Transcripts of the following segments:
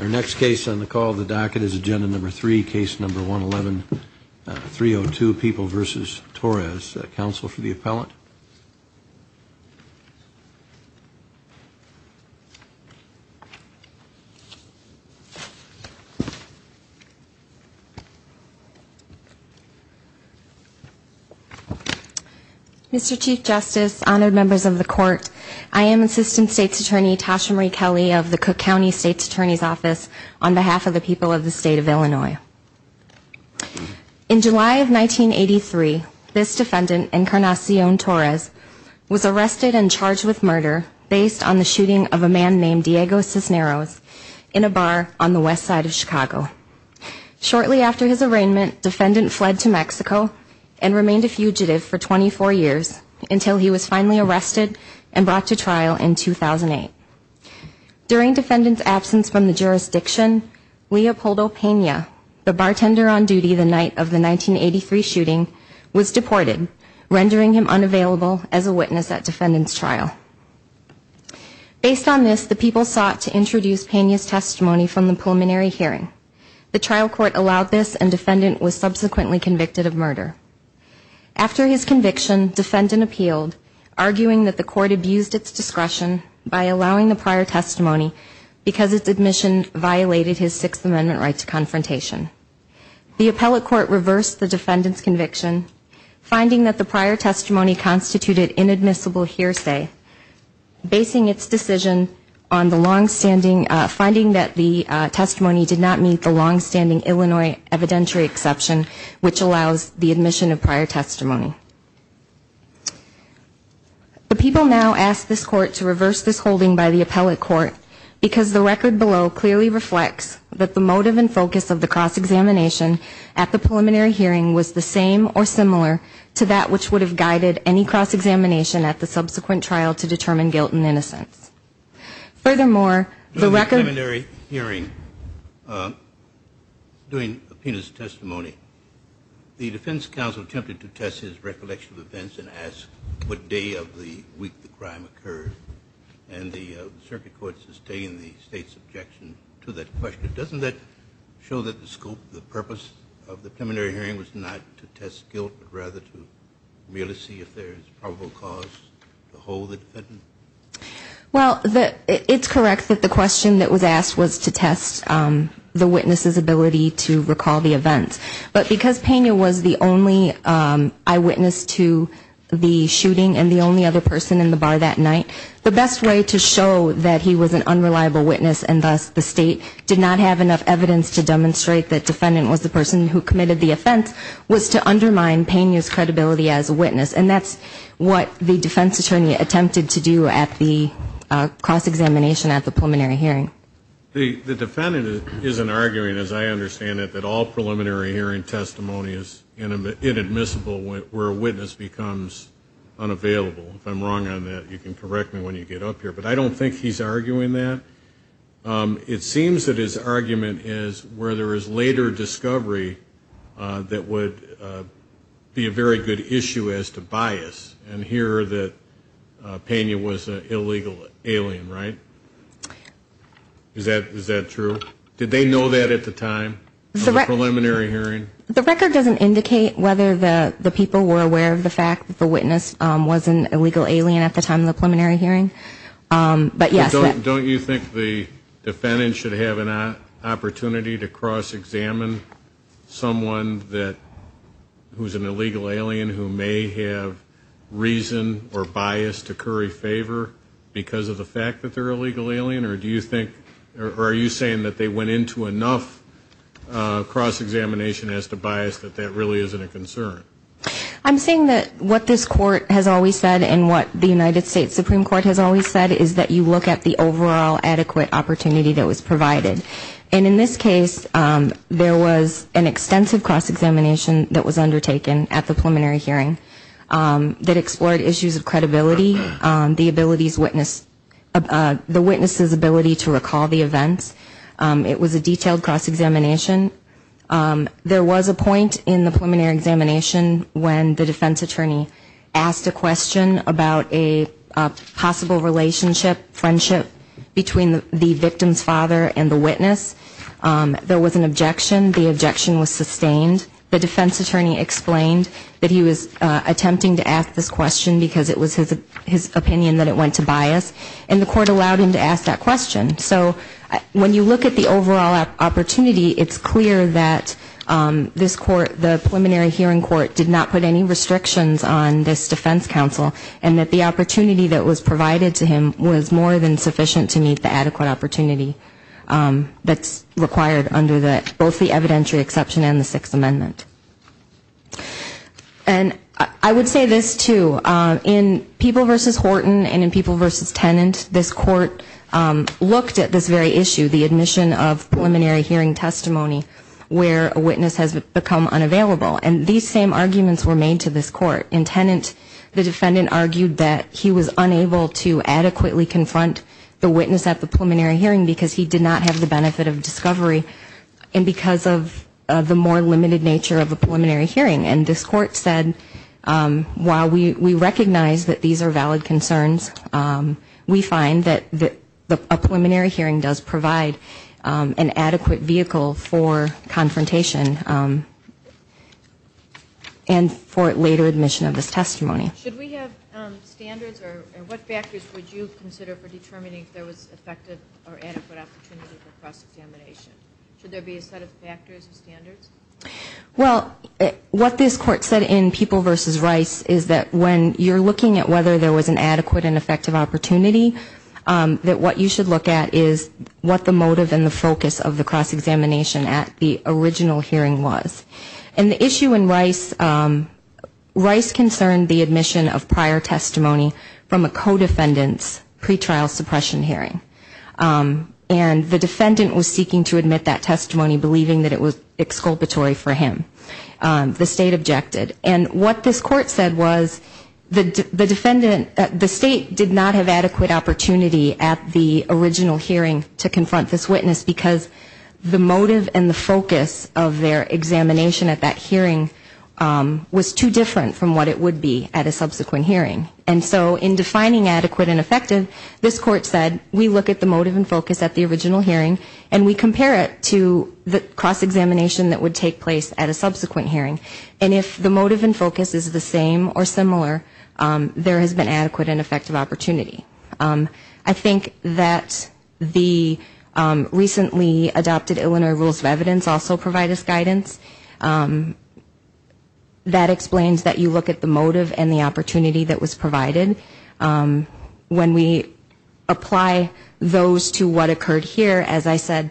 Our next case on the call of the docket is Agenda Number 3, Case Number 111-302, People v. Torres. Counsel for the appellant. Mr. Chief Justice, Honored Members of the Court, I am Assistant State's Attorney Tasha Marie Kelly of the Cook County State's Attorney's Office on behalf of the people of the State of Illinois. In July of 1983, this defendant, Encarnacion Torres, was arrested and charged with murder based on the shooting of a man named Diego Cisneros in a bar on the west side of Chicago. Shortly after his arraignment, the defendant fled to Mexico and remained a fugitive for 24 years until he was finally arrested and brought to trial in 2008. During the defendant's absence from the jurisdiction, Leopoldo Pena, the bartender on duty the night of the 1983 shooting, was deported, rendering him unavailable as a witness at defendant's trial. Based on this, the people sought to introduce Pena's testimony from the preliminary hearing. The trial court allowed this and the defendant was subsequently convicted of murder. After his conviction, defendant appealed, arguing that the court abused its discretion by allowing the prior testimony because its admission violated his Sixth Amendment right to confrontation. The appellate court reversed the defendant's conviction, finding that the prior testimony constituted inadmissible hearsay. Basing its decision on the longstanding, finding that the testimony did not meet the longstanding Illinois evidentiary exception, which allows the admission of prior testimony. The people now ask this court to reverse this holding by the appellate court, because the record below clearly reflects that the motive and focus of the cross-examination at the preliminary hearing was the same or similar to that which would have guided any cross-examination at the subsequent trial. In the preliminary hearing, during Pena's testimony, the defense counsel attempted to test his recollection of events and ask what day of the week the crime occurred. And the circuit court sustained the State's objection to that question. Doesn't that show that the scope, the purpose of the preliminary hearing was not to test guilt, but rather to merely see if there is probable cause to hold the defendant guilty? Well, it's correct that the question that was asked was to test the witness's ability to recall the events. But because Pena was the only eyewitness to the shooting and the only other person in the bar that night, the best way to show that he was an unreliable witness and thus the State did not have enough evidence to demonstrate that the defendant was the person who committed the offense was to undermine Pena's credibility as a witness. And that's what the defense attorney attempted to do at the cross-examination at the preliminary hearing. The defendant isn't arguing, as I understand it, that all preliminary hearing testimony is inadmissible where a witness becomes unavailable. If I'm wrong on that, you can correct me when you get up here. But I don't think he's arguing that. It seems that his argument is where there is later discovery that would be a very good issue as to bias and here that Pena was an illegal alien, right? Is that true? Did they know that at the time of the preliminary hearing? The record doesn't indicate whether the people were aware of the fact that the witness was an illegal alien at the time of the preliminary hearing. Don't you think the defendant should have an opportunity to cross-examine someone who's an illegal alien who may have reason or bias to curry favor because of the fact that they're an illegal alien? Or are you saying that they went into enough cross-examination as to bias that that really isn't a concern? I'm saying that what this Court has always said and what the United States Supreme Court has always said is that you look at the overall adequate opportunity that was provided. And in this case, there was an extensive cross-examination that was undertaken at the preliminary hearing that explored issues of credibility, the witness' ability to recall the events. It was a detailed cross-examination. There was a point in the preliminary examination when the defense attorney asked a question about a possible relationship, friendship between the victim's father and the witness. There was an objection. The objection was sustained. The defense attorney explained that he was attempting to ask this question because it was his opinion that it went to bias. And the court allowed him to ask that question. So when you look at the overall opportunity, it's clear that this court, the preliminary hearing court, did not put any restrictions on this defense counsel and that the opportunity that was provided to him was more than sufficient to meet the adequate opportunity that's required under both the evidentiary exception and the Sixth Amendment. And I would say this, too. In People v. Horton and in People v. Tenant, this court looked at this very issue, the admission of preliminary hearing testimony, where a witness has become unavailable. And these same arguments were made to this court. In Tenant, the defendant argued that he was unable to adequately confront the witness at the preliminary hearing because he did not have the benefit of discovery and because of the more limited nature of the evidence. And this court said, while we recognize that these are valid concerns, we find that a preliminary hearing does provide an adequate vehicle for confrontation and for later admission of this testimony. Should we have standards or what factors would you consider for determining if there was effective or adequate opportunity for cross-examination? Should there be a set of factors or standards? Well, what this court said in People v. Rice is that when you're looking at whether there was an adequate and effective opportunity, that what you should look at is what the motive and the focus of the cross-examination at the original hearing was. And the issue in Rice, Rice concerned the admission of prior testimony from a co-defendant's pretrial suppression hearing. And the defendant was seeking to admit that testimony, believing that it was exculpatory for him. The state objected. And what this court said was the defendant, the state did not have adequate opportunity at the original hearing to confront this witness because the motive and the focus of their examination at that hearing was too different from what it would be at a subsequent hearing. And so in defining adequate and effective, this court said we look at the motive and focus at the original hearing and we compare it to the cross-examination that would take place at a subsequent hearing. And if the motive and focus is the same or similar, there has been adequate and effective opportunity. I think that the recently adopted Illinois Rules of Evidence also provide us guidance. That explains that you look at the motive and the opportunity that was provided. When we apply those to what occurred here, as I said,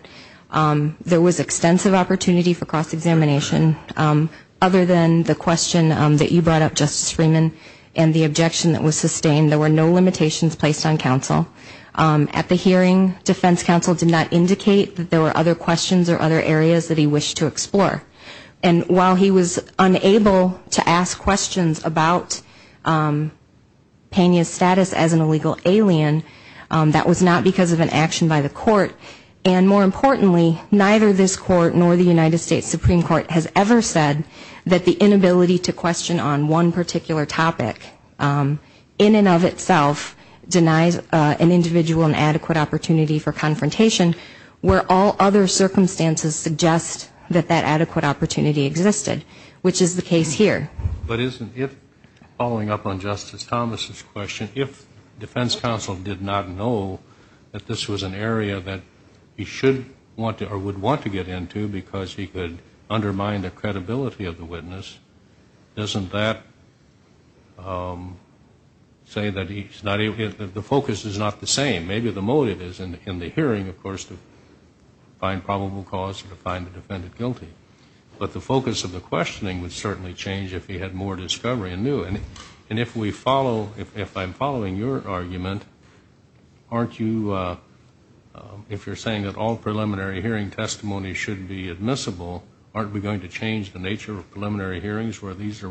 there was extensive opportunity for cross-examination. Other than the question that you brought up, Justice Freeman, and the objection that was sustained, there were no limitations placed on counsel. At the hearing, defense counsel did not indicate that there were other questions or other areas that he wished to explore. And while he was unable to ask questions about Pena's status as an illegal alien, that was not because of an action by the court. And more importantly, neither this court nor the United States Supreme Court has ever said that the inability to question on one particular topic, in and of itself, denies an individual an adequate opportunity for confrontation, where all other circumstances suggest that that adequate opportunity does not exist. Which is the case here. But isn't it, following up on Justice Thomas' question, if defense counsel did not know that this was an area that he should want to or would want to get into because he could undermine the credibility of the witness, doesn't that say that the focus is not the same? Maybe the motive is in the hearing, of course, to find probable cause or to find the defendant guilty. But the focus of the questioning would certainly change if he had more discovery and knew. And if we follow, if I'm following your argument, aren't you, if you're saying that all preliminary hearing testimony shouldn't be admissible, aren't we going to change the nature of preliminary hearings where these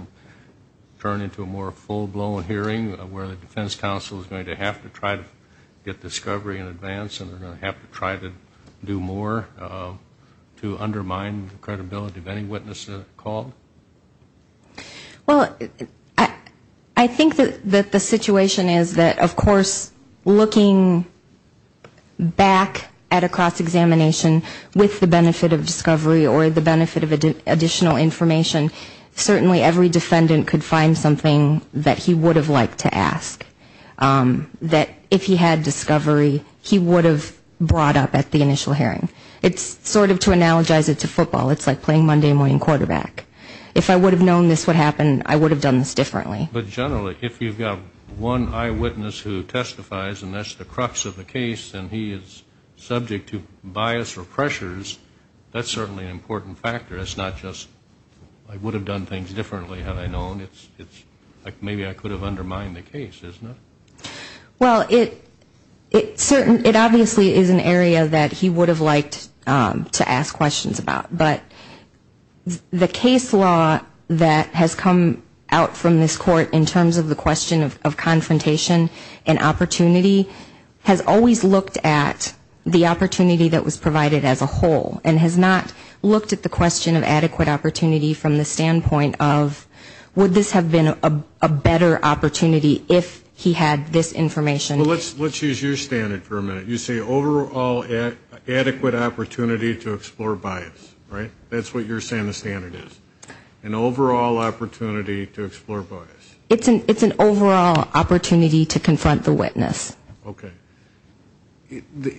turn into a more full-blown hearing, where the defense counsel is going to have to try to get discovery in advance and are going to have to try to do more to undermine the credibility of any witness called? Well, I think that the situation is that, of course, looking back at a cross-examination with the benefit of discovery or the benefit of additional information, certainly every defendant could find something that he would have liked to ask. That if he had discovery, he would have brought up at the initial hearing. It's sort of to analogize it to football. It's like playing Monday morning quarterback. If I would have known this would happen, I would have done this differently. But generally, if you've got one eyewitness who testifies and that's the crux of the case and he is subject to bias or pressures, that's certainly an important factor. It's not just I would have done things differently had I known. It's like maybe I could have undermined the case, isn't it? Well, it obviously is an area that he would have liked to ask questions about. But the case law that has come out from this court in terms of the question of confrontation and opportunity has always looked at the opportunity that was provided as a whole, and has not looked at the question of adequate opportunity from the standpoint of would this have been a better opportunity if he had done it differently? He had this information. Well, let's use your standard for a minute. You say overall adequate opportunity to explore bias, right? That's what you're saying the standard is. An overall opportunity to explore bias. It's an overall opportunity to confront the witness. Okay.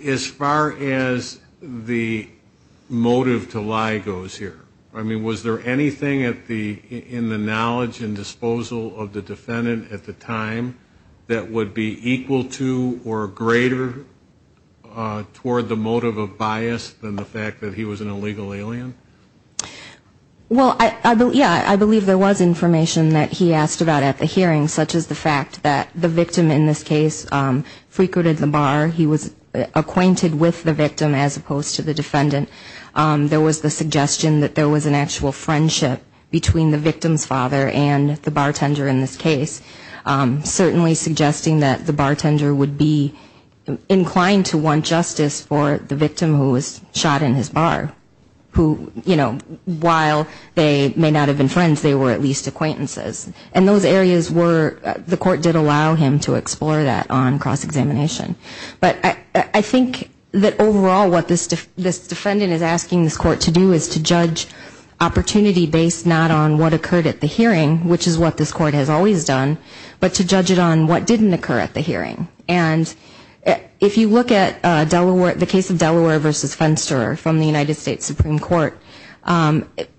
As far as the motive to lie goes here, I mean, was there anything in the knowledge and disposal of the defendant at the time that would be equal to or greater toward the motive of bias than the fact that he was an illegal alien? Well, yeah, I believe there was information that he asked about at the hearing, such as the fact that the victim in this case frequented the bar. He was acquainted with the victim as opposed to the defendant. There was the suggestion that there was an actual friendship between the victim and the bartender, suggesting that the bartender would be inclined to want justice for the victim who was shot in his bar, who, you know, while they may not have been friends, they were at least acquaintances. And those areas were, the court did allow him to explore that on cross examination. But I think that overall what this defendant is asking this court to do is to judge opportunity based not on what occurred at the hearing, which is what this court has always done, but to judge it on what didn't occur at the hearing. And if you look at the case of Delaware v. Fenster from the United States Supreme Court,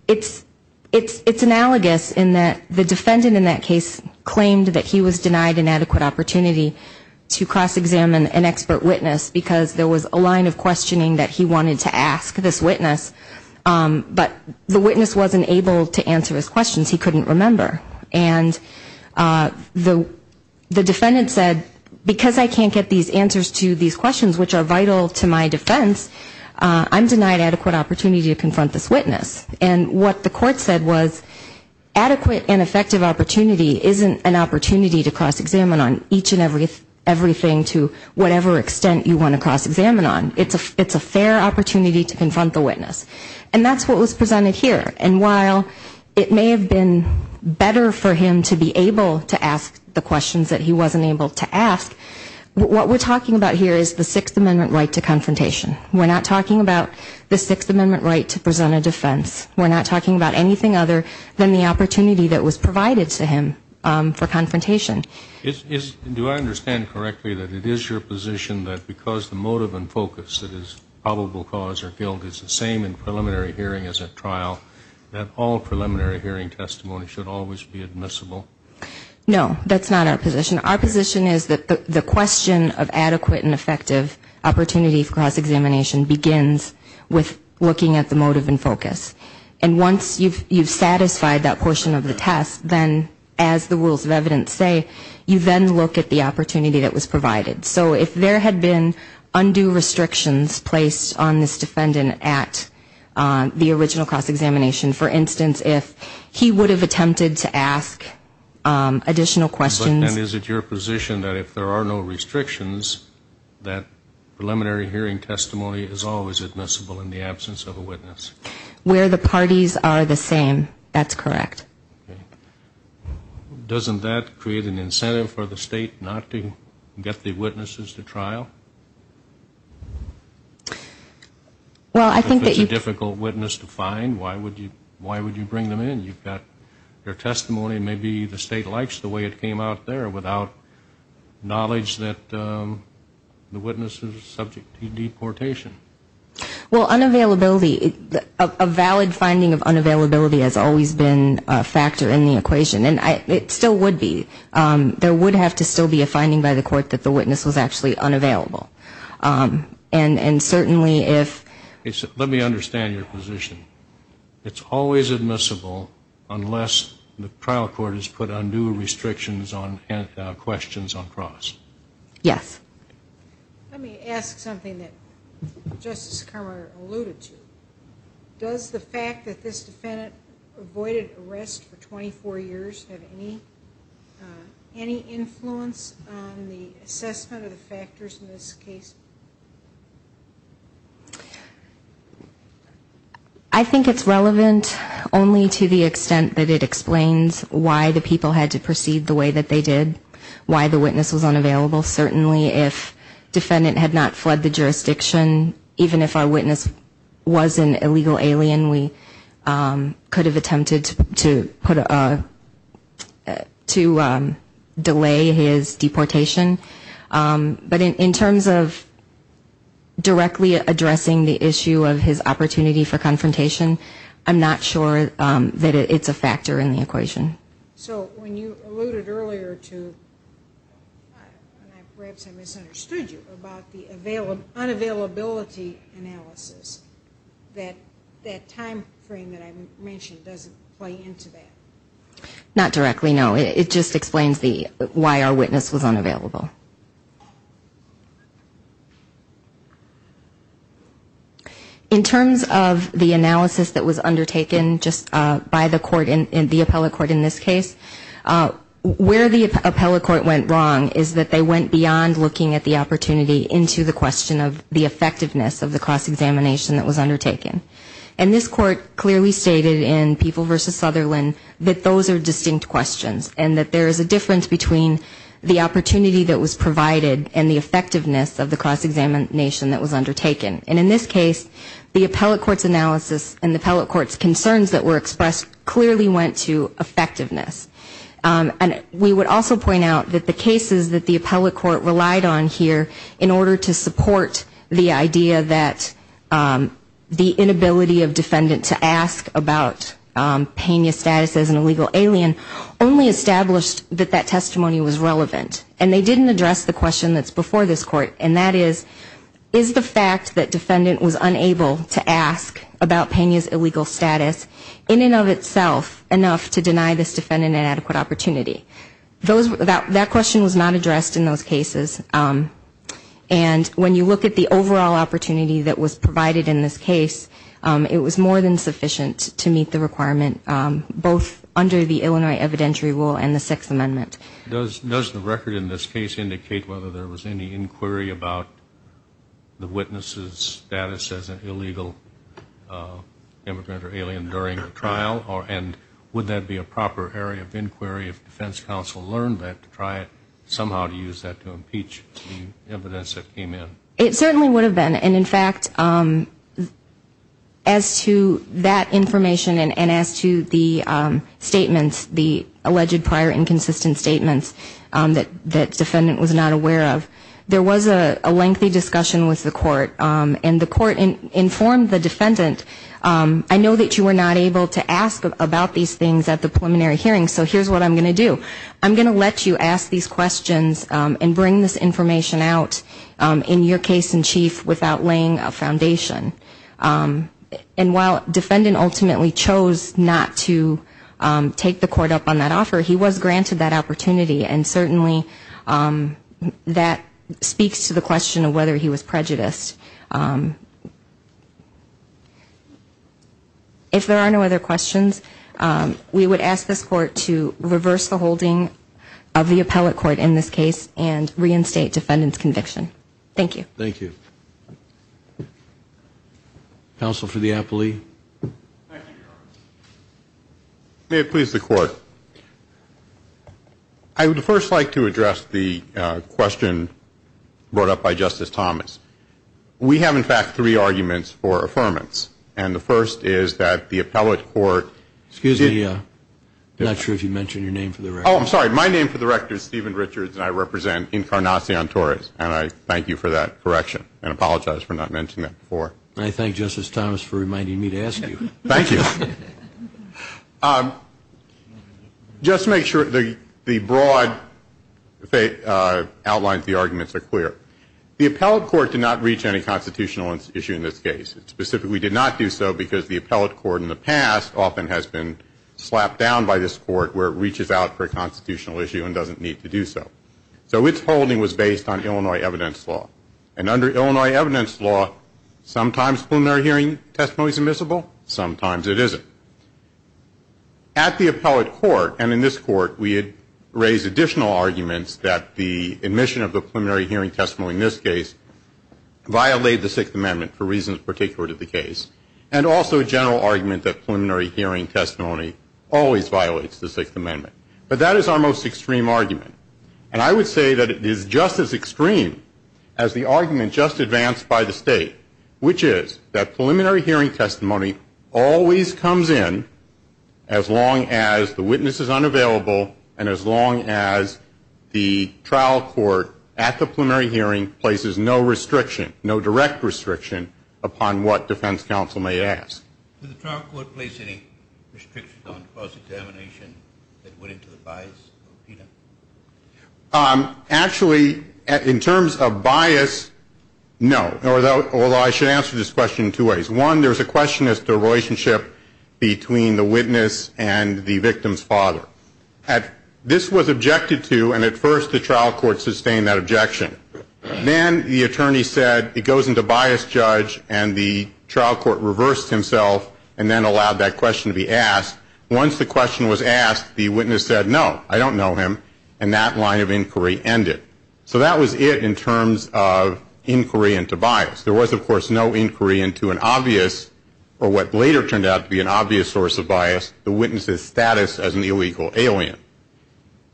it's analogous in that the defendant in that case claimed that he was denied an adequate opportunity to cross examine an expert witness because there was a line of questioning that he wanted to ask this witness, but the witness wasn't able to answer his questions. He couldn't remember. And the defendant said, because I can't get these answers to these questions, which are vital to my defense, I'm denied adequate opportunity to confront this witness. And what the court said was, adequate and effective opportunity isn't an opportunity to cross examine on each and everything to whatever extent you want to cross examine on. It's a fair opportunity to confront the witness. And that's what was presented here. And while it may have been better for him to be able to ask the questions that he wasn't able to ask, what we're talking about here is the Sixth Amendment right to confrontation. We're not talking about the Sixth Amendment right to present a defense. We're not talking about anything other than the opportunity that was provided to him for confrontation. Do I understand correctly that it is your position that because the motive and focus that is probable cause or guilt is the same in this case? And preliminary hearing is a trial, that all preliminary hearing testimony should always be admissible? No, that's not our position. Our position is that the question of adequate and effective opportunity for cross examination begins with looking at the motive and focus. And once you've satisfied that portion of the test, then, as the rules of evidence say, you then look at the opportunity that was provided. So if there had been undue restrictions placed on this defendant at the time of the cross examination, for instance, if he would have attempted to ask additional questions. And is it your position that if there are no restrictions, that preliminary hearing testimony is always admissible in the absence of a witness? Where the parties are the same. That's correct. Doesn't that create an incentive for the State not to get the witnesses to trial? If it's a difficult witness to find, why would you bring them in? You've got their testimony, maybe the State likes the way it came out there without knowledge that the witness is subject to deportation. Well, unavailability, a valid finding of unavailability has always been a factor in the equation. And it still would be. There would have to still be a finding by the court that the witness was actually unavailable. And certainly if... Let me understand your position. It's always admissible unless the trial court has put undue restrictions on questions on cross. Yes. Let me ask something that Justice Kramer alluded to. Does the fact that this defendant avoided arrest for 24 years have any effect on his any influence on the assessment of the factors in this case? I think it's relevant only to the extent that it explains why the people had to proceed the way that they did, why the witness was unavailable. Certainly if defendant had not fled the jurisdiction, even if our witness was an illegal alien, we could have attempted to put a... delay his deportation. But in terms of directly addressing the issue of his opportunity for confrontation, I'm not sure that it's a factor in the equation. So when you alluded earlier to, perhaps I misunderstood you, about the unavailability analysis, that time frame that I mentioned doesn't play into that? Not directly, no. It just explains why our witness was unavailable. In terms of the analysis that was undertaken just by the court, the appellate court in this case, where the appellate court went wrong is that they went beyond looking at the opportunity into the question of the effectiveness of the cross-examination that was undertaken. And this court clearly stated in People v. Sutherland that those are distinct questions and that there is a difference between the opportunity that was provided and the effectiveness of the cross-examination that was undertaken. And in this case, the appellate court's analysis and the appellate court's concerns that were expressed clearly went to effectiveness. And we would also point out that the cases that the appellate court relied on here in order to support the idea that the inability of defendant to ask about Pena's status as an illegal alien only established that that testimony was relevant. And they didn't address the question that's before this court, and that is, is the fact that defendant was unable to ask about Pena's illegal status in and of itself enough to deny this defendant an adequate opportunity? That question was not addressed in those cases. And when you look at the overall opportunity that was provided in this case, it was more than sufficient to meet the requirement, both under the Illinois evidentiary rule and the Sixth Amendment. Does the record in this case indicate whether there was any inquiry about the witness's status as an illegal immigrant or alien during the trial? And would that be a proper area of inquiry if defense counsel learned that to try somehow to use that to impeach the defendant? It certainly would have been. And in fact, as to that information and as to the statements, the alleged prior inconsistent statements that defendant was not aware of, there was a lengthy discussion with the court, and the court informed the defendant, I know that you were not able to ask about these things at the preliminary hearing, so here's what I'm going to do. I'm going to let you ask these questions and bring this information out in your case in chief without laying a foundation. And while defendant ultimately chose not to take the court up on that offer, he was granted that opportunity, and certainly that speaks to the question of whether he was prejudiced. If there are no other questions, we would ask this court to reverse the holding of the appellate court in this case and reinstate defendant's conviction. Thank you. Thank you. Counsel for the appellee. May it please the court. I would first like to address the question brought up by Justice Thomas. We have in fact three arguments for affirmance, and the first is that the appellate court Excuse me, I'm not sure if you mentioned your name for the record. My name is Stephen Richards, and I represent Incarnacion Torres, and I thank you for that correction, and apologize for not mentioning that before. I thank Justice Thomas for reminding me to ask you. Thank you. Just to make sure the broad outlines of the arguments are clear, the appellate court did not reach any constitutional issue in this case. It specifically did not do so because the appellate court in the past often has been slapped down by this court where it reaches out for a constitutional issue and doesn't need to do so. So its holding was based on Illinois evidence law, and under Illinois evidence law, sometimes preliminary hearing testimony is admissible, sometimes it isn't. At the appellate court and in this court, we had raised additional arguments that the admission of the preliminary hearing testimony in this case violated the Sixth Amendment for reasons particular to the case. And also a general argument that preliminary hearing testimony always violates the Sixth Amendment. But that is our most extreme argument. And I would say that it is just as extreme as the argument just advanced by the State, which is that preliminary hearing testimony always comes in as long as the witness is unavailable and as long as the trial court at the preliminary hearing places no restriction, no direct restriction upon what defense counsel may ask. Do the trial court place any restrictions on cross-examination that went into the bias? Actually, in terms of bias, no. Although I should answer this question in two ways. One, there is a question as to the relationship between the witness and the victim's father. This was objected to, and at first the trial court sustained that objection. Then the attorney said it goes into bias, judge, and the trial court reversed himself and then allowed that question to be asked. Once the question was asked, the witness said no, I don't know him, and that line of inquiry ended. So that was it in terms of inquiry into bias. There was, of course, no inquiry into an obvious or what later turned out to be an obvious source of bias, the witness's status as an illegal alien.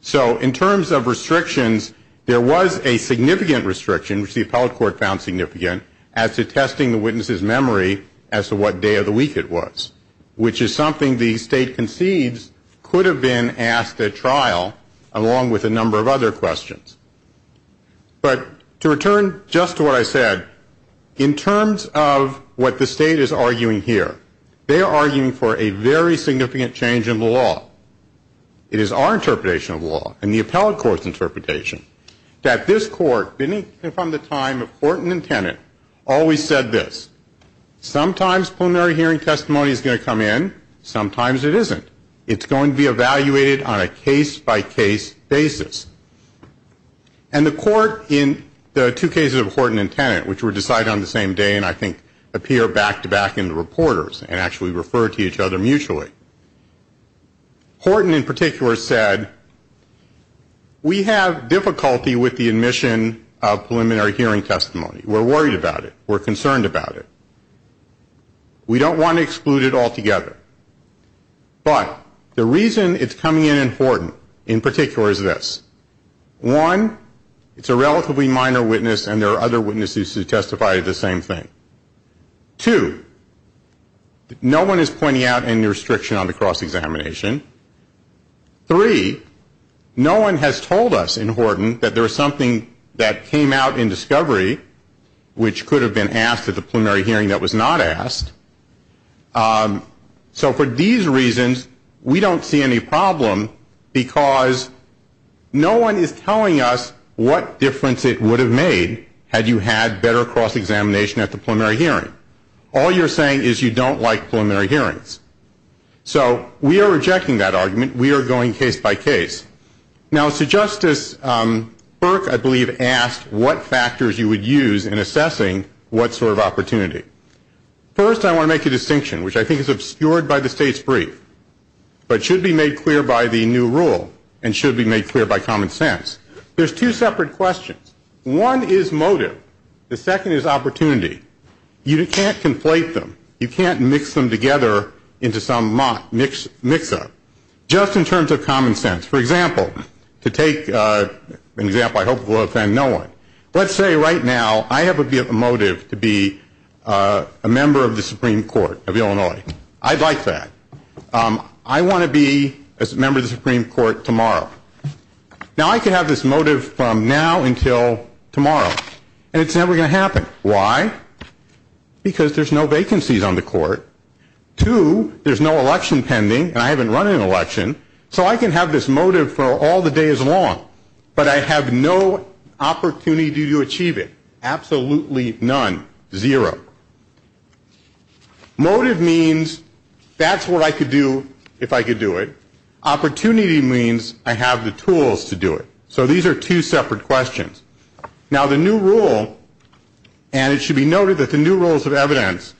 So in terms of restrictions, there was a significant restriction, which the appellate court found significant, as to testing the witness's memory as to what day of the week it was, which is something the State concedes could have been asked at trial along with a number of other questions. But to return just to what I said, in terms of what the State is arguing here, they are arguing for a very significant change in the law. It is our interpretation of the law and the appellate court's interpretation that this court, beginning from the time of court and intendant, always said this, sometimes preliminary hearing testimony is going to come in, sometimes it isn't. It's going to be evaluated on a case-by-case basis. And the court in the two cases of Horton and Tennant, which were decided on the same day and I think appear back-to-back in the reporters and actually refer to each other mutually, Horton in particular said, we have difficulty with the admission of preliminary hearing testimony. We're worried about it. We're concerned about it. We don't want to exclude it altogether. But the reason it's coming in in Horton in particular is this. One, it's a relatively minor witness and there are other witnesses who testify to the same thing. Two, no one is pointing out any restriction on the cross-examination. Three, no one has told us in Horton that there is something that came out in discovery which could have been asked at the preliminary hearing that was not asked. So for these reasons, we don't see any problem because no one is telling us what difference it would have made had you had better cross-examination at the preliminary hearing. All you're saying is you don't like preliminary hearings. So we are rejecting that argument. We are going case by case. Now, so Justice Burke, I believe, asked what factors you would use in assessing what sort of opportunity. First, I want to make a distinction, which I think is obscured by the State's brief, that you can't conflate them, you can't mix them together into some mock mix-up. Just in terms of common sense, for example, to take an example I hope will offend no one, let's say right now I have a motive to be a member of the Supreme Court of Illinois. I'd like that. I want to be a member of the Supreme Court tomorrow. Now, I could have this motive from now until tomorrow, and it's never going to happen. Why? Because there's no vacancies on the court. Two, there's no election pending, and I haven't run an election, so I can have this motive for all the days long, but I have no opportunity to achieve it, absolutely none, zero. Motive means that's what I could do if I could do it. Opportunity means I have the tools to do it. So these are two separate questions. Now, the new rule, and it should be noted that the new rules of evidence,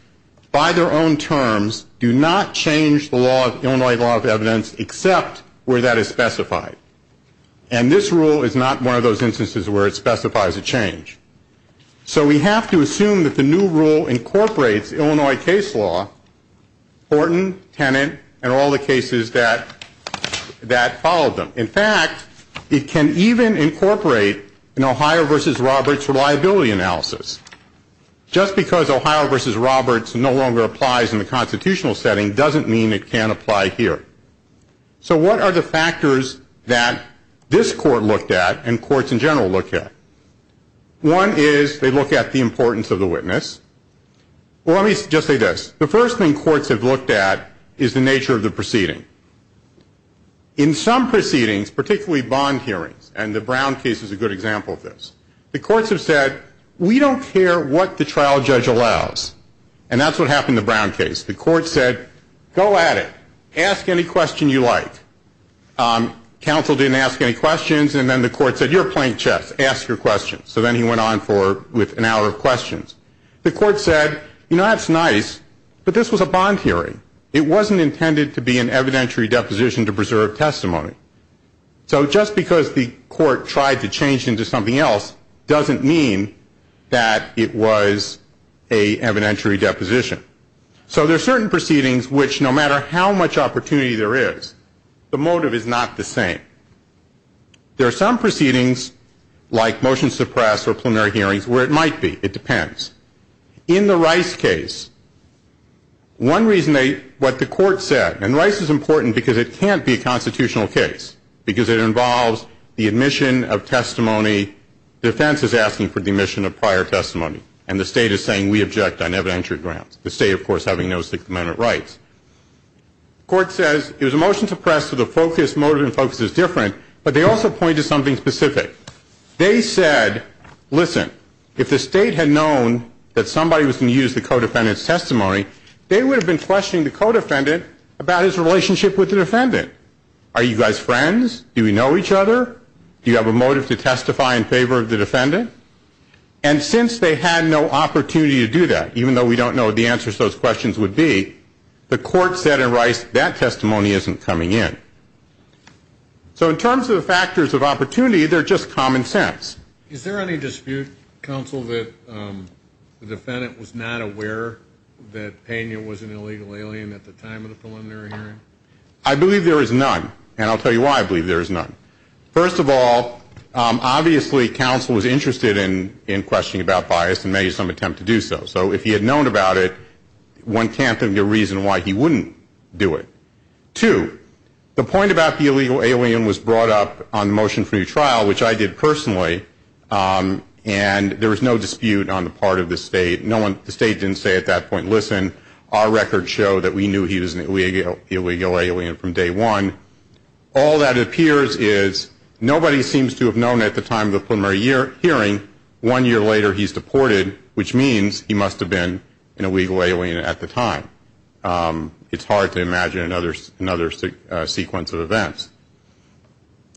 by their own terms, do not change the Illinois law of evidence except where that is specified. And this rule is not one of those instances where it specifies a change. So we have to assume that the new rule incorporates Illinois case law, Horton, Tennant, and all the cases that follow them. In fact, it can even incorporate an Ohio v. Roberts reliability analysis. Just because Ohio v. Roberts no longer applies in the constitutional setting doesn't mean it can't apply here. So what are the factors that this court looked at and courts in general look at? One is they look at the importance of the witness. Let me just say this. The first thing courts have looked at is the nature of the proceeding. In some proceedings, particularly bond hearings, and the Brown case is a good example of this, the courts have said, we don't care what the trial judge allows. And that's what happened in the Brown case. The court said, go at it. Ask any question you like. Counsel didn't ask any questions, and then the court said, you're playing chess. Ask your questions. So then he went on with an hour of questions. The court said, you know, that's nice, but this was a bond hearing. It wasn't intended to be an evidentiary deposition to preserve testimony. So just because the court tried to change into something else doesn't mean that it was an evidentiary deposition. So there are certain proceedings which, no matter how much opportunity there is, the motive is not the same. There are some proceedings, like motion suppress or preliminary hearings, where it might be. It depends. In the Rice case, one reason what the court said, and Rice is important because it can't be a constitutional case, because it involves the admission of testimony, defense is asking for the admission of prior testimony, and the state is saying we object on evidentiary grounds, the state, of course, having no Sixth Amendment rights. The court says it was a motion to suppress, so the motive and focus is different, but they also pointed to something specific. They said, listen, if the state had known that somebody was going to use the co-defendant's testimony, they would have been questioning the co-defendant about his relationship with the defendant. Are you guys friends? Do we know each other? Do you have a motive to testify in favor of the defendant? And since they had no opportunity to do that, even though we don't know what the answers to those questions would be, the court said in Rice that testimony isn't coming in. So in terms of the factors of opportunity, they're just common sense. Is there any dispute, counsel, that the defendant was not aware that Pena was an illegal alien at the time of the preliminary hearing? I believe there is none, and I'll tell you why I believe there is none. First of all, obviously counsel was interested in questioning about bias and made some attempt to do so. So if he had known about it, one can't think of a reason why he wouldn't do it. Two, the point about the illegal alien was brought up on the motion for new trial, which I did personally, and there was no dispute on the part of the state. The state didn't say at that point, listen, our records show that we knew he was an illegal alien from day one. All that appears is nobody seems to have known at the time of the preliminary hearing one year later he's deported, which means he must have been an illegal alien at the time. It's hard to imagine another sequence of events.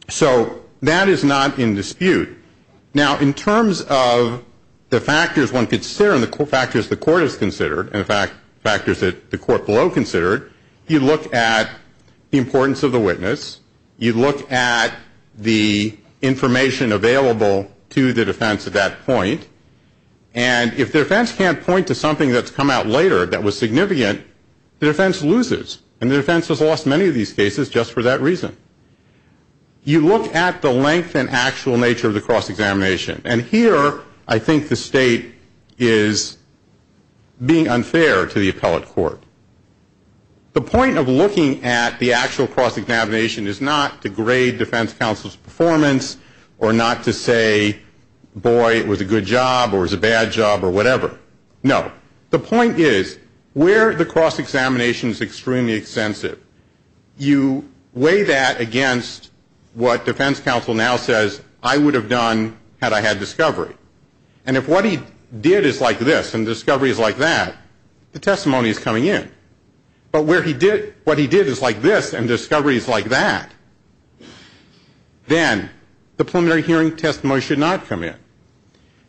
So that is not in dispute. Now, in terms of the factors one could consider and the factors the court has considered and the factors that the court below considered, you look at the importance of the witness, you look at the information available to the defense at that point, and if the defense can't point to something that's come out later that was significant, the defense loses, and the defense has lost many of these cases just for that reason. You look at the length and actual nature of the cross-examination, and here I think the state is being unfair to the appellate court. The point of looking at the actual cross-examination is not to grade defense counsel's performance or not to say, boy, it was a good job or it was a bad job or whatever. No. The point is where the cross-examination is extremely extensive, you weigh that against what defense counsel now says I would have done had I had discovery. And if what he did is like this and discovery is like that, the testimony is coming in. But what he did is like this and discovery is like that, then the preliminary hearing testimony should not come in.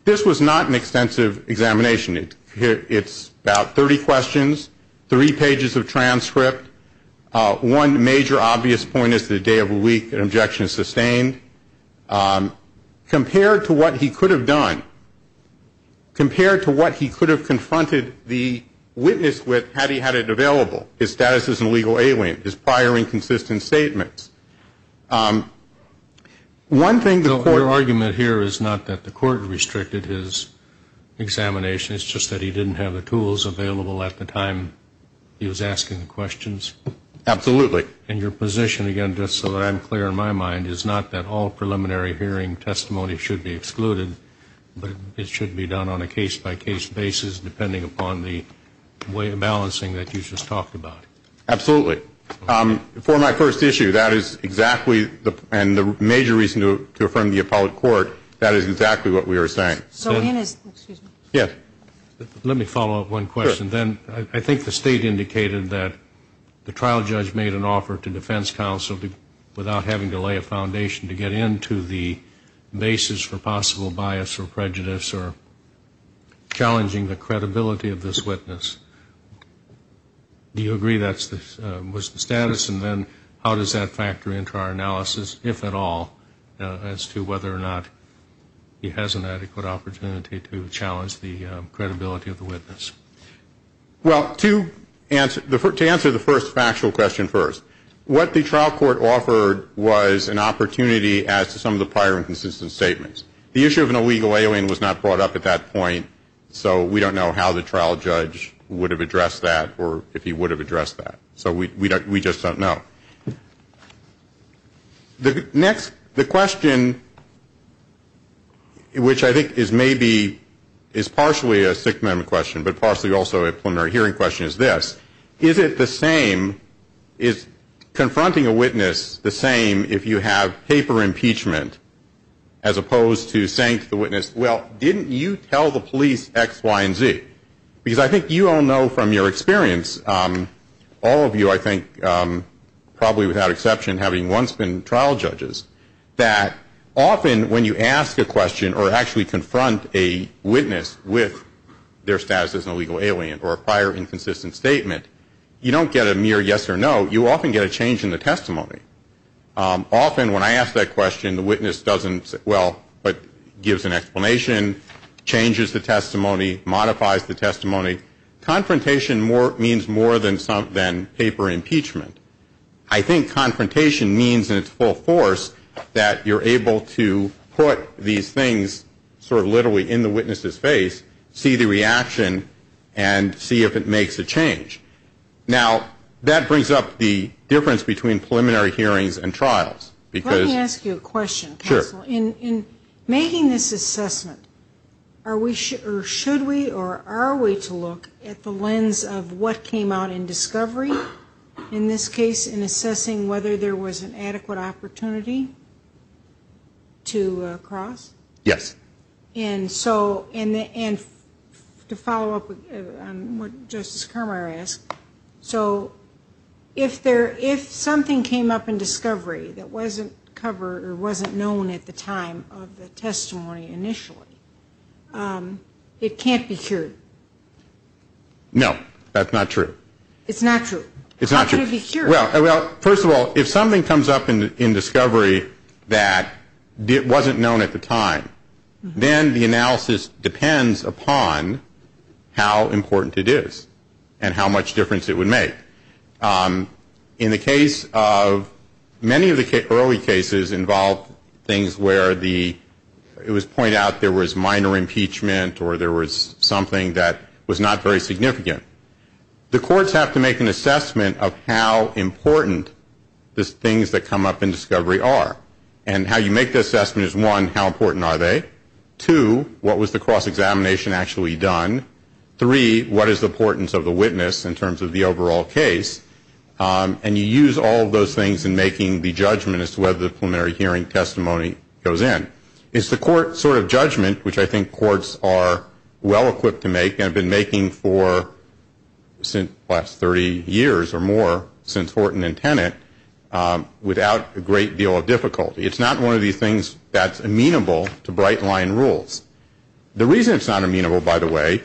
This was not an extensive examination. It's about 30 questions, three pages of transcript. One major obvious point is that a day of a week, an objection is sustained. Compared to what he could have done, compared to what he could have confronted the witness with had he had it available, his status as an illegal alien, his prior inconsistent statements, one thing the court. Your argument here is not that the court restricted his examination. It's just that he didn't have the tools available at the time he was asking the questions. Absolutely. And your position, again, just so that I'm clear in my mind, is not that all preliminary hearing testimony should be excluded, but it should be done on a case-by-case basis depending upon the way of balancing that you just talked about. Absolutely. For my first issue, that is exactly, and the major reason to affirm the appellate court, that is exactly what we are saying. So in his, excuse me. Yes. Let me follow up one question. Sure. Then I think the State indicated that the trial judge made an offer to defense counsel without having to lay a foundation to get into the basis for possible bias or prejudice or challenging the credibility of this witness. Do you agree that was the status? And then how does that factor into our analysis, if at all, as to whether or not he has an adequate opportunity to challenge the credibility of the witness? Well, to answer the first factual question first, what the trial court offered was an opportunity as to some of the prior inconsistent statements. The issue of an illegal alien was not brought up at that point, so we don't know how the trial judge would have addressed that or if he would have addressed that. So we just don't know. Next, the question, which I think is maybe is partially a Sixth Amendment question but partially also a preliminary hearing question is this. Is it the same, is confronting a witness the same if you have paper impeachment as opposed to saying to the witness, well, didn't you tell the police X, Y, and Z? Because I think you all know from your experience, all of you, I think, probably without exception having once been trial judges, that often when you ask a question or actually confront a witness with their status as an illegal alien or a prior inconsistent statement, you don't get a mere yes or no, you often get a change in the testimony. Often when I ask that question, the witness doesn't say, well, but gives an explanation, changes the testimony, modifies the testimony. Confrontation means more than paper impeachment. I think confrontation means in its full force that you're able to put these things sort of literally in the witness's face, see the reaction, and see if it makes a change. Now, that brings up the difference between preliminary hearings and trials. Let me ask you a question, counsel. Sure. In making this assessment, are we or should we or are we to look at the lens of what came out in discovery, in this case in assessing whether there was an adequate opportunity to cross? Yes. And so to follow up on what Justice Kramer asked, so if something came up in discovery that wasn't covered or wasn't known at the time of the testimony initially, it can't be cured? No, that's not true. It's not true? It's not true. How can it be cured? Well, first of all, if something comes up in discovery that wasn't known at the time, then the analysis depends upon how important it is and how much difference it would make. In the case of many of the early cases involved things where it was pointed out there was minor impeachment or there was something that was not very significant. The courts have to make an assessment of how important the things that come up in discovery are. And how you make the assessment is, one, how important are they? Two, what was the cross-examination actually done? Three, what is the importance of the witness in terms of the overall case? And you use all of those things in making the judgment as to whether the preliminary hearing testimony goes in. It's the court's sort of judgment, which I think courts are well-equipped to make and have been making for the last 30 years or more since Horton and Tennant, without a great deal of difficulty. It's not one of these things that's amenable to bright-line rules. The reason it's not amenable, by the way,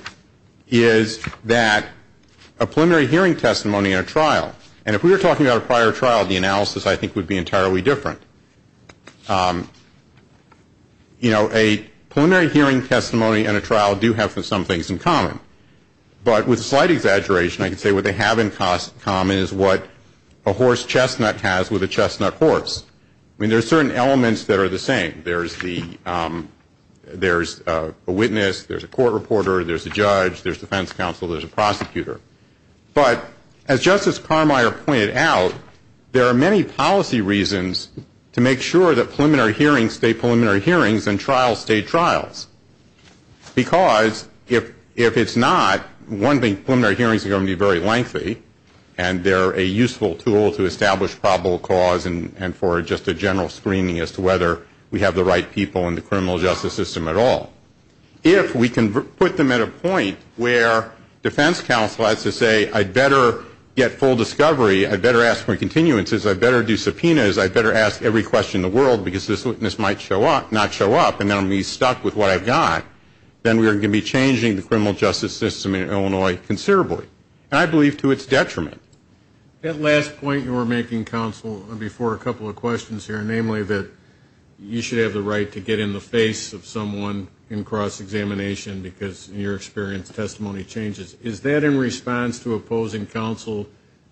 is that a preliminary hearing testimony in a trial, and if we were talking about a prior trial, the analysis I think would be entirely different. You know, a preliminary hearing testimony in a trial do have some things in common. But with a slight exaggeration, I can say what they have in common is what a horse chestnut has with a chestnut horse. I mean, there are certain elements that are the same. There's a witness, there's a court reporter, there's a judge, there's defense counsel, there's a prosecutor. But as Justice Carmier pointed out, there are many policy reasons to make sure that preliminary hearings stay preliminary hearings and trials stay trials. Because if it's not, one thing, preliminary hearings are going to be very lengthy, and they're a useful tool to establish probable cause and for just a general screening as to whether we have the right people in the criminal justice system at all. If we can put them at a point where defense counsel has to say, I'd better get full discovery, I'd better ask for continuances, I'd better do subpoenas, I'd better ask every question in the world because this witness might not show up and then I'm going to be stuck with what I've got, then we're going to be changing the criminal justice system in Illinois considerably. And I believe to its detriment. That last point you were making, counsel, before a couple of questions here, namely that you should have the right to get in the face of someone in cross-examination because in your experience testimony changes. Is that in response to opposing counsel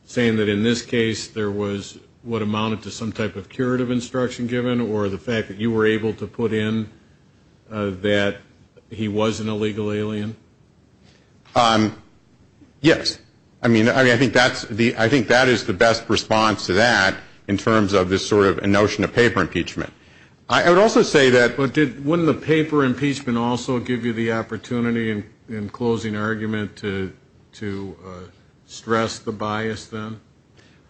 saying that in this case there was what amounted to some type of curative instruction given or the fact that you were able to put in that he was an illegal alien? Yes. I mean, I think that is the best response to that in terms of this sort of notion of paper impeachment. I would also say that. But wouldn't the paper impeachment also give you the opportunity in closing argument to stress the bias then?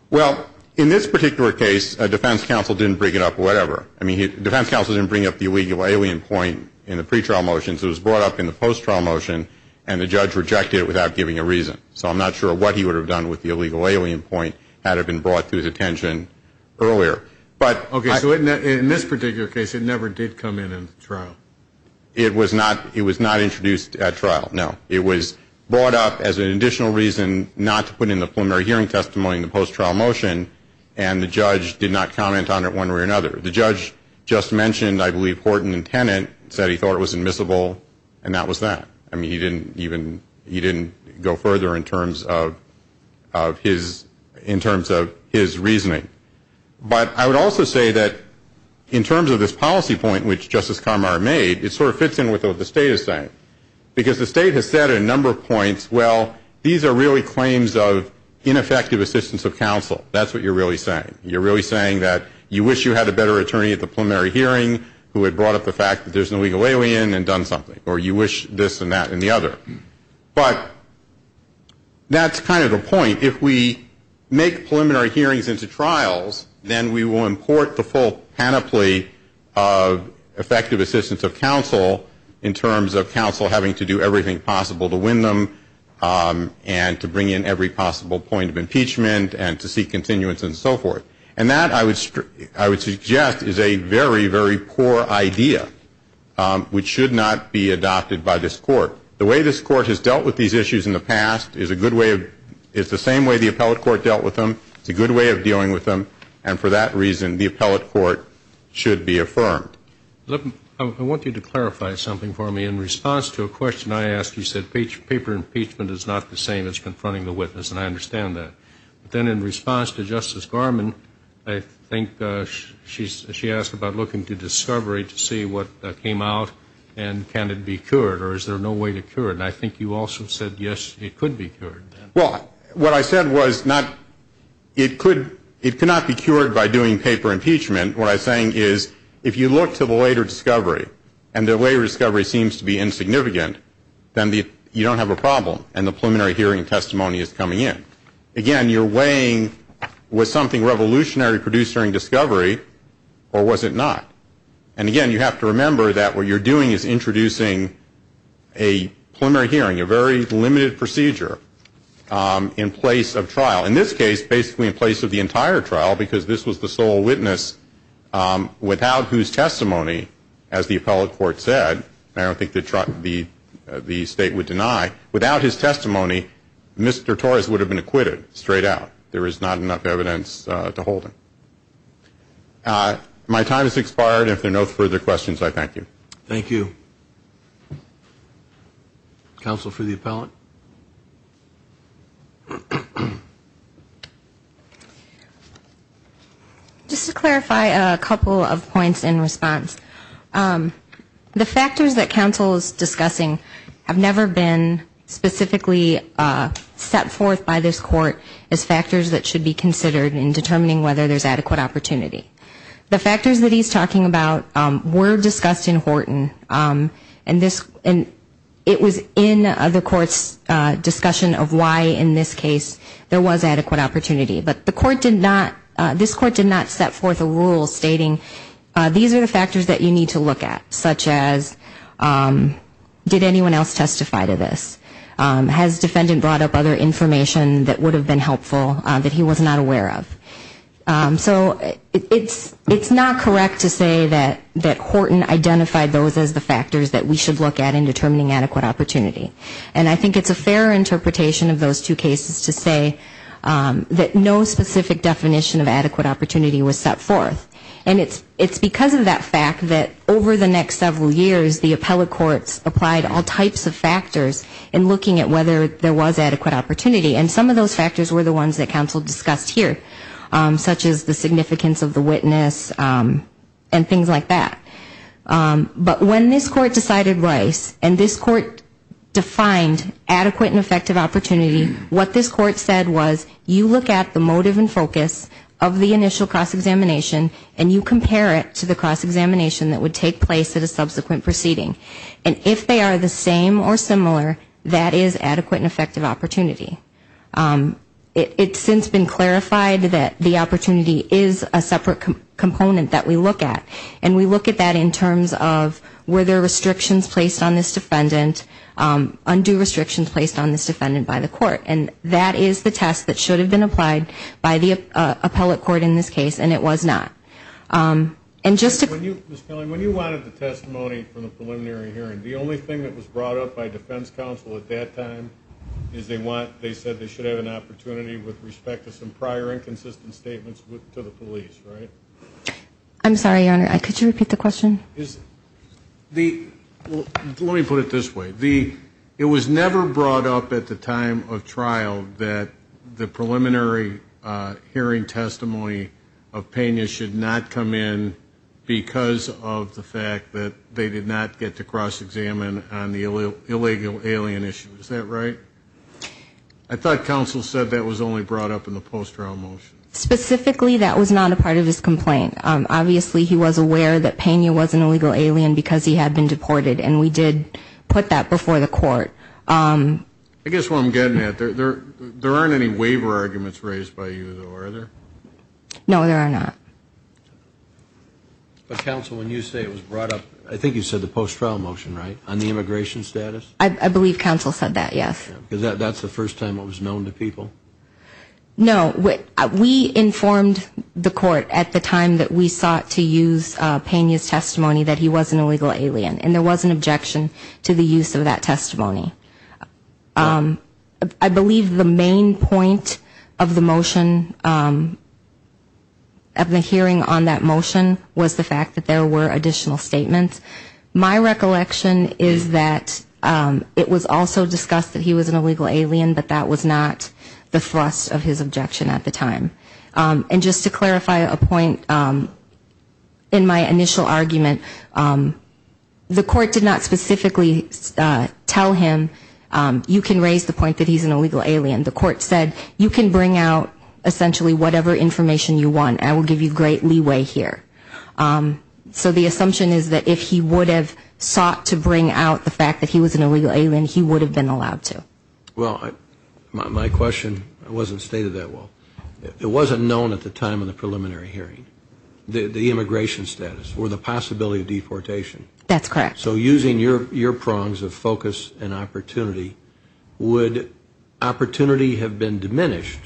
Well, in this particular case, defense counsel didn't bring it up or whatever. I mean, defense counsel didn't bring up the illegal alien point in the pretrial motions. It was brought up in the post-trial motion and the judge rejected it without giving a reason. So I'm not sure what he would have done with the illegal alien point had it been brought to his attention earlier. Okay. So in this particular case it never did come in in the trial? It was not introduced at trial, no. It was brought up as an additional reason not to put in the preliminary hearing testimony in the post-trial motion and the judge did not comment on it one way or another. The judge just mentioned, I believe, Horton and Tennant said he thought it was admissible and that was that. I mean, he didn't even go further in terms of his reasoning. But I would also say that in terms of this policy point which Justice Conroy made, it sort of fits in with what the state is saying because the state has said at a number of points, well, these are really claims of ineffective assistance of counsel. That's what you're really saying. You're really saying that you wish you had a better attorney at the preliminary hearing who had brought up the fact that there's an illegal alien and done something or you wish this and that and the other. But that's kind of the point. If we make preliminary hearings into trials, then we will import the full panoply of effective assistance of counsel in terms of counsel having to do everything possible to win them and to bring in every possible point of impeachment and to seek continuance and so forth. And that, I would suggest, is a very, very poor idea which should not be adopted by this court. The way this court has dealt with these issues in the past is a good way of the same way the appellate court dealt with them. It's a good way of dealing with them. And for that reason, the appellate court should be affirmed. I want you to clarify something for me. In response to a question I asked, you said paper impeachment is not the same as confronting the witness, and I understand that. But then in response to Justice Garmon, I think she asked about looking to discovery to see what came out and can it be cured or is there no way to cure it. And I think you also said, yes, it could be cured. Well, what I said was it could not be cured by doing paper impeachment. What I'm saying is if you look to the later discovery and the later discovery seems to be insignificant, then you don't have a problem and the preliminary hearing testimony is coming in. Again, you're weighing was something revolutionary produced during discovery or was it not? And again, you have to remember that what you're doing is introducing a preliminary hearing, a very limited procedure in place of trial. In this case, basically in place of the entire trial because this was the sole witness without whose testimony, as the appellate court said, and I don't think the state would deny, without his testimony, Mr. Torres would have been acquitted straight out. There is not enough evidence to hold him. My time has expired. If there are no further questions, I thank you. Thank you. Counsel for the appellate. Just to clarify a couple of points in response. The factors that counsel is discussing have never been specifically set forth by this court as factors that should be considered in determining whether there's adequate opportunity. The factors that he's talking about were discussed in Horton, and it was in the court's discussion of why in this case there was adequate opportunity. But the court did not, this court did not set forth a rule stating these are the factors that you need to look at, such as did anyone else testify to this? Has defendant brought up other information that would have been helpful that he was not aware of? So it's not correct to say that Horton identified those as the factors that we should look at in determining adequate opportunity. And I think it's a fair interpretation of those two cases to say that no specific definition of adequate opportunity was set forth. And it's because of that fact that over the next several years, the appellate courts applied all types of factors in looking at whether there was adequate opportunity. And some of those factors were the ones that counsel discussed here, such as the significance of the witness and things like that. But when this court decided Rice and this court defined adequate and effective opportunity, what this court said was you look at the motive and focus of the initial cross-examination and you compare it to the cross-examination that would take place at a subsequent proceeding. And if they are the same or similar, that is adequate and effective opportunity. It's since been clarified that the opportunity is a separate component that we look at. And we look at that in terms of were there restrictions placed on this defendant, undue restrictions placed on this defendant by the court. And that is the test that should have been applied by the appellate court in this case, and it was not. And just to... When you wanted the testimony from the preliminary hearing, the only thing that was brought up by defense counsel at that time is they said they should have an opportunity with respect to some prior inconsistent statements to the police, right? I'm sorry, Your Honor. Could you repeat the question? Let me put it this way. It was never brought up at the time of trial that the preliminary hearing testimony of Pena should not come in because of the fact that they did not get to cross-examine on the illegal alien issue. Is that right? I thought counsel said that was only brought up in the post-trial motion. Specifically, that was not a part of his complaint. Obviously, he was aware that Pena was an illegal alien because he had been deported, and we did put that before the court. I guess what I'm getting at, there aren't any waiver arguments raised by you, though, are there? No, there are not. But, counsel, when you say it was brought up, I think you said the post-trial motion, right, on the immigration status? I believe counsel said that, yes. Because that's the first time it was known to people? No. We informed the court at the time that we sought to use Pena's testimony that he was an illegal alien, and there was an objection to the use of that testimony. I believe the main point of the motion, of the hearing on that motion, was the fact that there were additional statements. My recollection is that it was also discussed that he was an illegal alien, but that was not the thrust of his objection at the time. And just to clarify a point, in my initial argument, the court did not specifically tell him, you can raise the point that he's an illegal alien. The court said, you can bring out essentially whatever information you want, and I will give you great leeway here. So the assumption is that if he would have sought to bring out the fact that he was an illegal alien, he would have been allowed to. Well, my question wasn't stated that well. It wasn't known at the time of the preliminary hearing, the immigration status or the possibility of deportation. That's correct. So using your prongs of focus and opportunity, would opportunity have been diminished,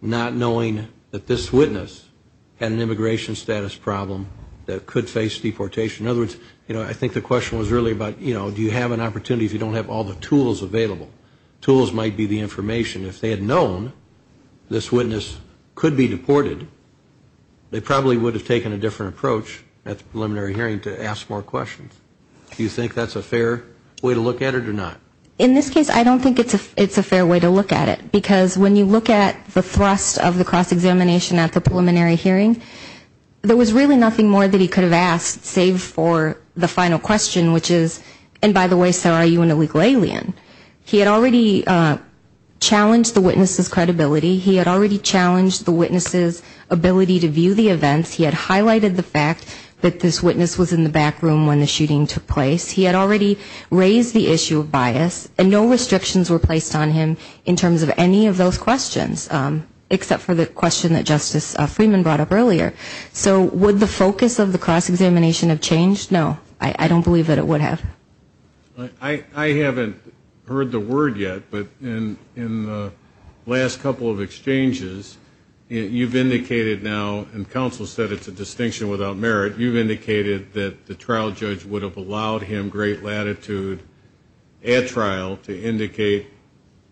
not knowing that this witness had an immigration status problem that could face deportation? In other words, you know, I think the question was earlier about, you know, do you have an opportunity if you don't have all the tools available? Tools might be the information. If they had known this witness could be deported, they probably would have taken a different approach at the preliminary hearing to ask more questions. Do you think that's a fair way to look at it or not? In this case, I don't think it's a fair way to look at it, because when you look at the thrust of the cross-examination at the preliminary hearing, there was really nothing more that he could have asked, save for the final question, which is, and by the way, sir, are you an illegal alien? He had already challenged the witness's credibility. He had already challenged the witness's ability to view the events. He had highlighted the fact that this witness was in the back room when the shooting took place. He had already raised the issue of bias. And no restrictions were placed on him in terms of any of those questions, except for the question that Justice Freeman brought up earlier. So would the focus of the cross-examination have changed? No, I don't believe that it would have. I haven't heard the word yet, but in the last couple of exchanges, you've indicated now, and counsel said it's a distinction without merit, you've indicated that the trial judge would have allowed him great latitude at trial to indicate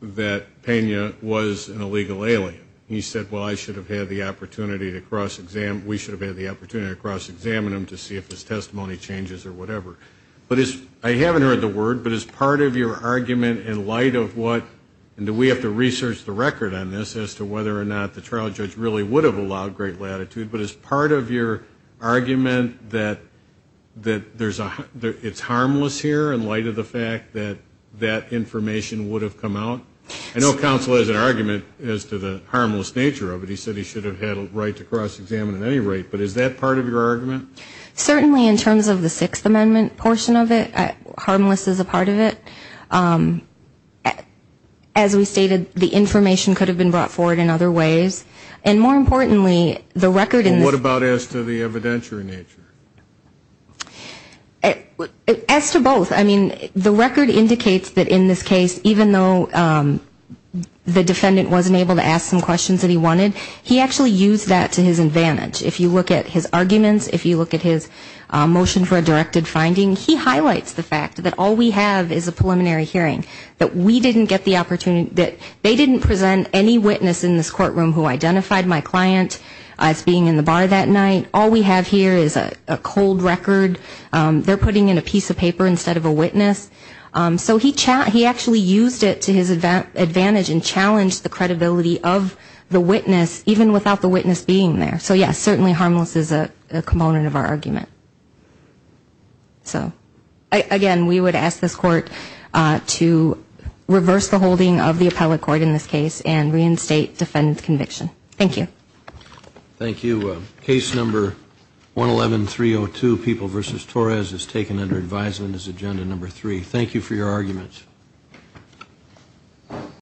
that Pena was an illegal alien. He said, well, I should have had the opportunity to cross-examine, we should have had the opportunity to cross-examine him to see if his testimony changes or whatever. But I haven't heard the word, but as part of your argument in light of what, and we have to research the record on this as to whether or not the trial judge really would have allowed great latitude, but as part of your argument that it's harmless here in light of the fact that that information would have come out? I know counsel has an argument as to the harmless nature of it. He said he should have had a right to cross-examine at any rate. But is that part of your argument? Certainly in terms of the Sixth Amendment portion of it, harmless is a part of it. As we stated, the information could have been brought forward in other ways. And more importantly, the record in this. What about as to the evidentiary nature? As to both, I mean, the record indicates that in this case, even though the defendant wasn't able to ask some questions that he wanted, he actually used that to his advantage. If you look at his arguments, if you look at his motion for a directed finding, he highlights the fact that all we have is a preliminary hearing, that we didn't get the opportunity, that they didn't present any witness in this courtroom who identified my client as being in the bar that night. All we have here is a cold record. They're putting in a piece of paper instead of a witness. So he actually used it to his advantage and challenged the credibility of the witness, even without the witness being there. So, yes, certainly harmless is a component of our argument. So, again, we would ask this Court to reverse the holding of the appellate court in this case and reinstate defendant's conviction. Thank you. Thank you. Case number 111302, People v. Torres, is taken under advisement as agenda number three. Thank you for your arguments.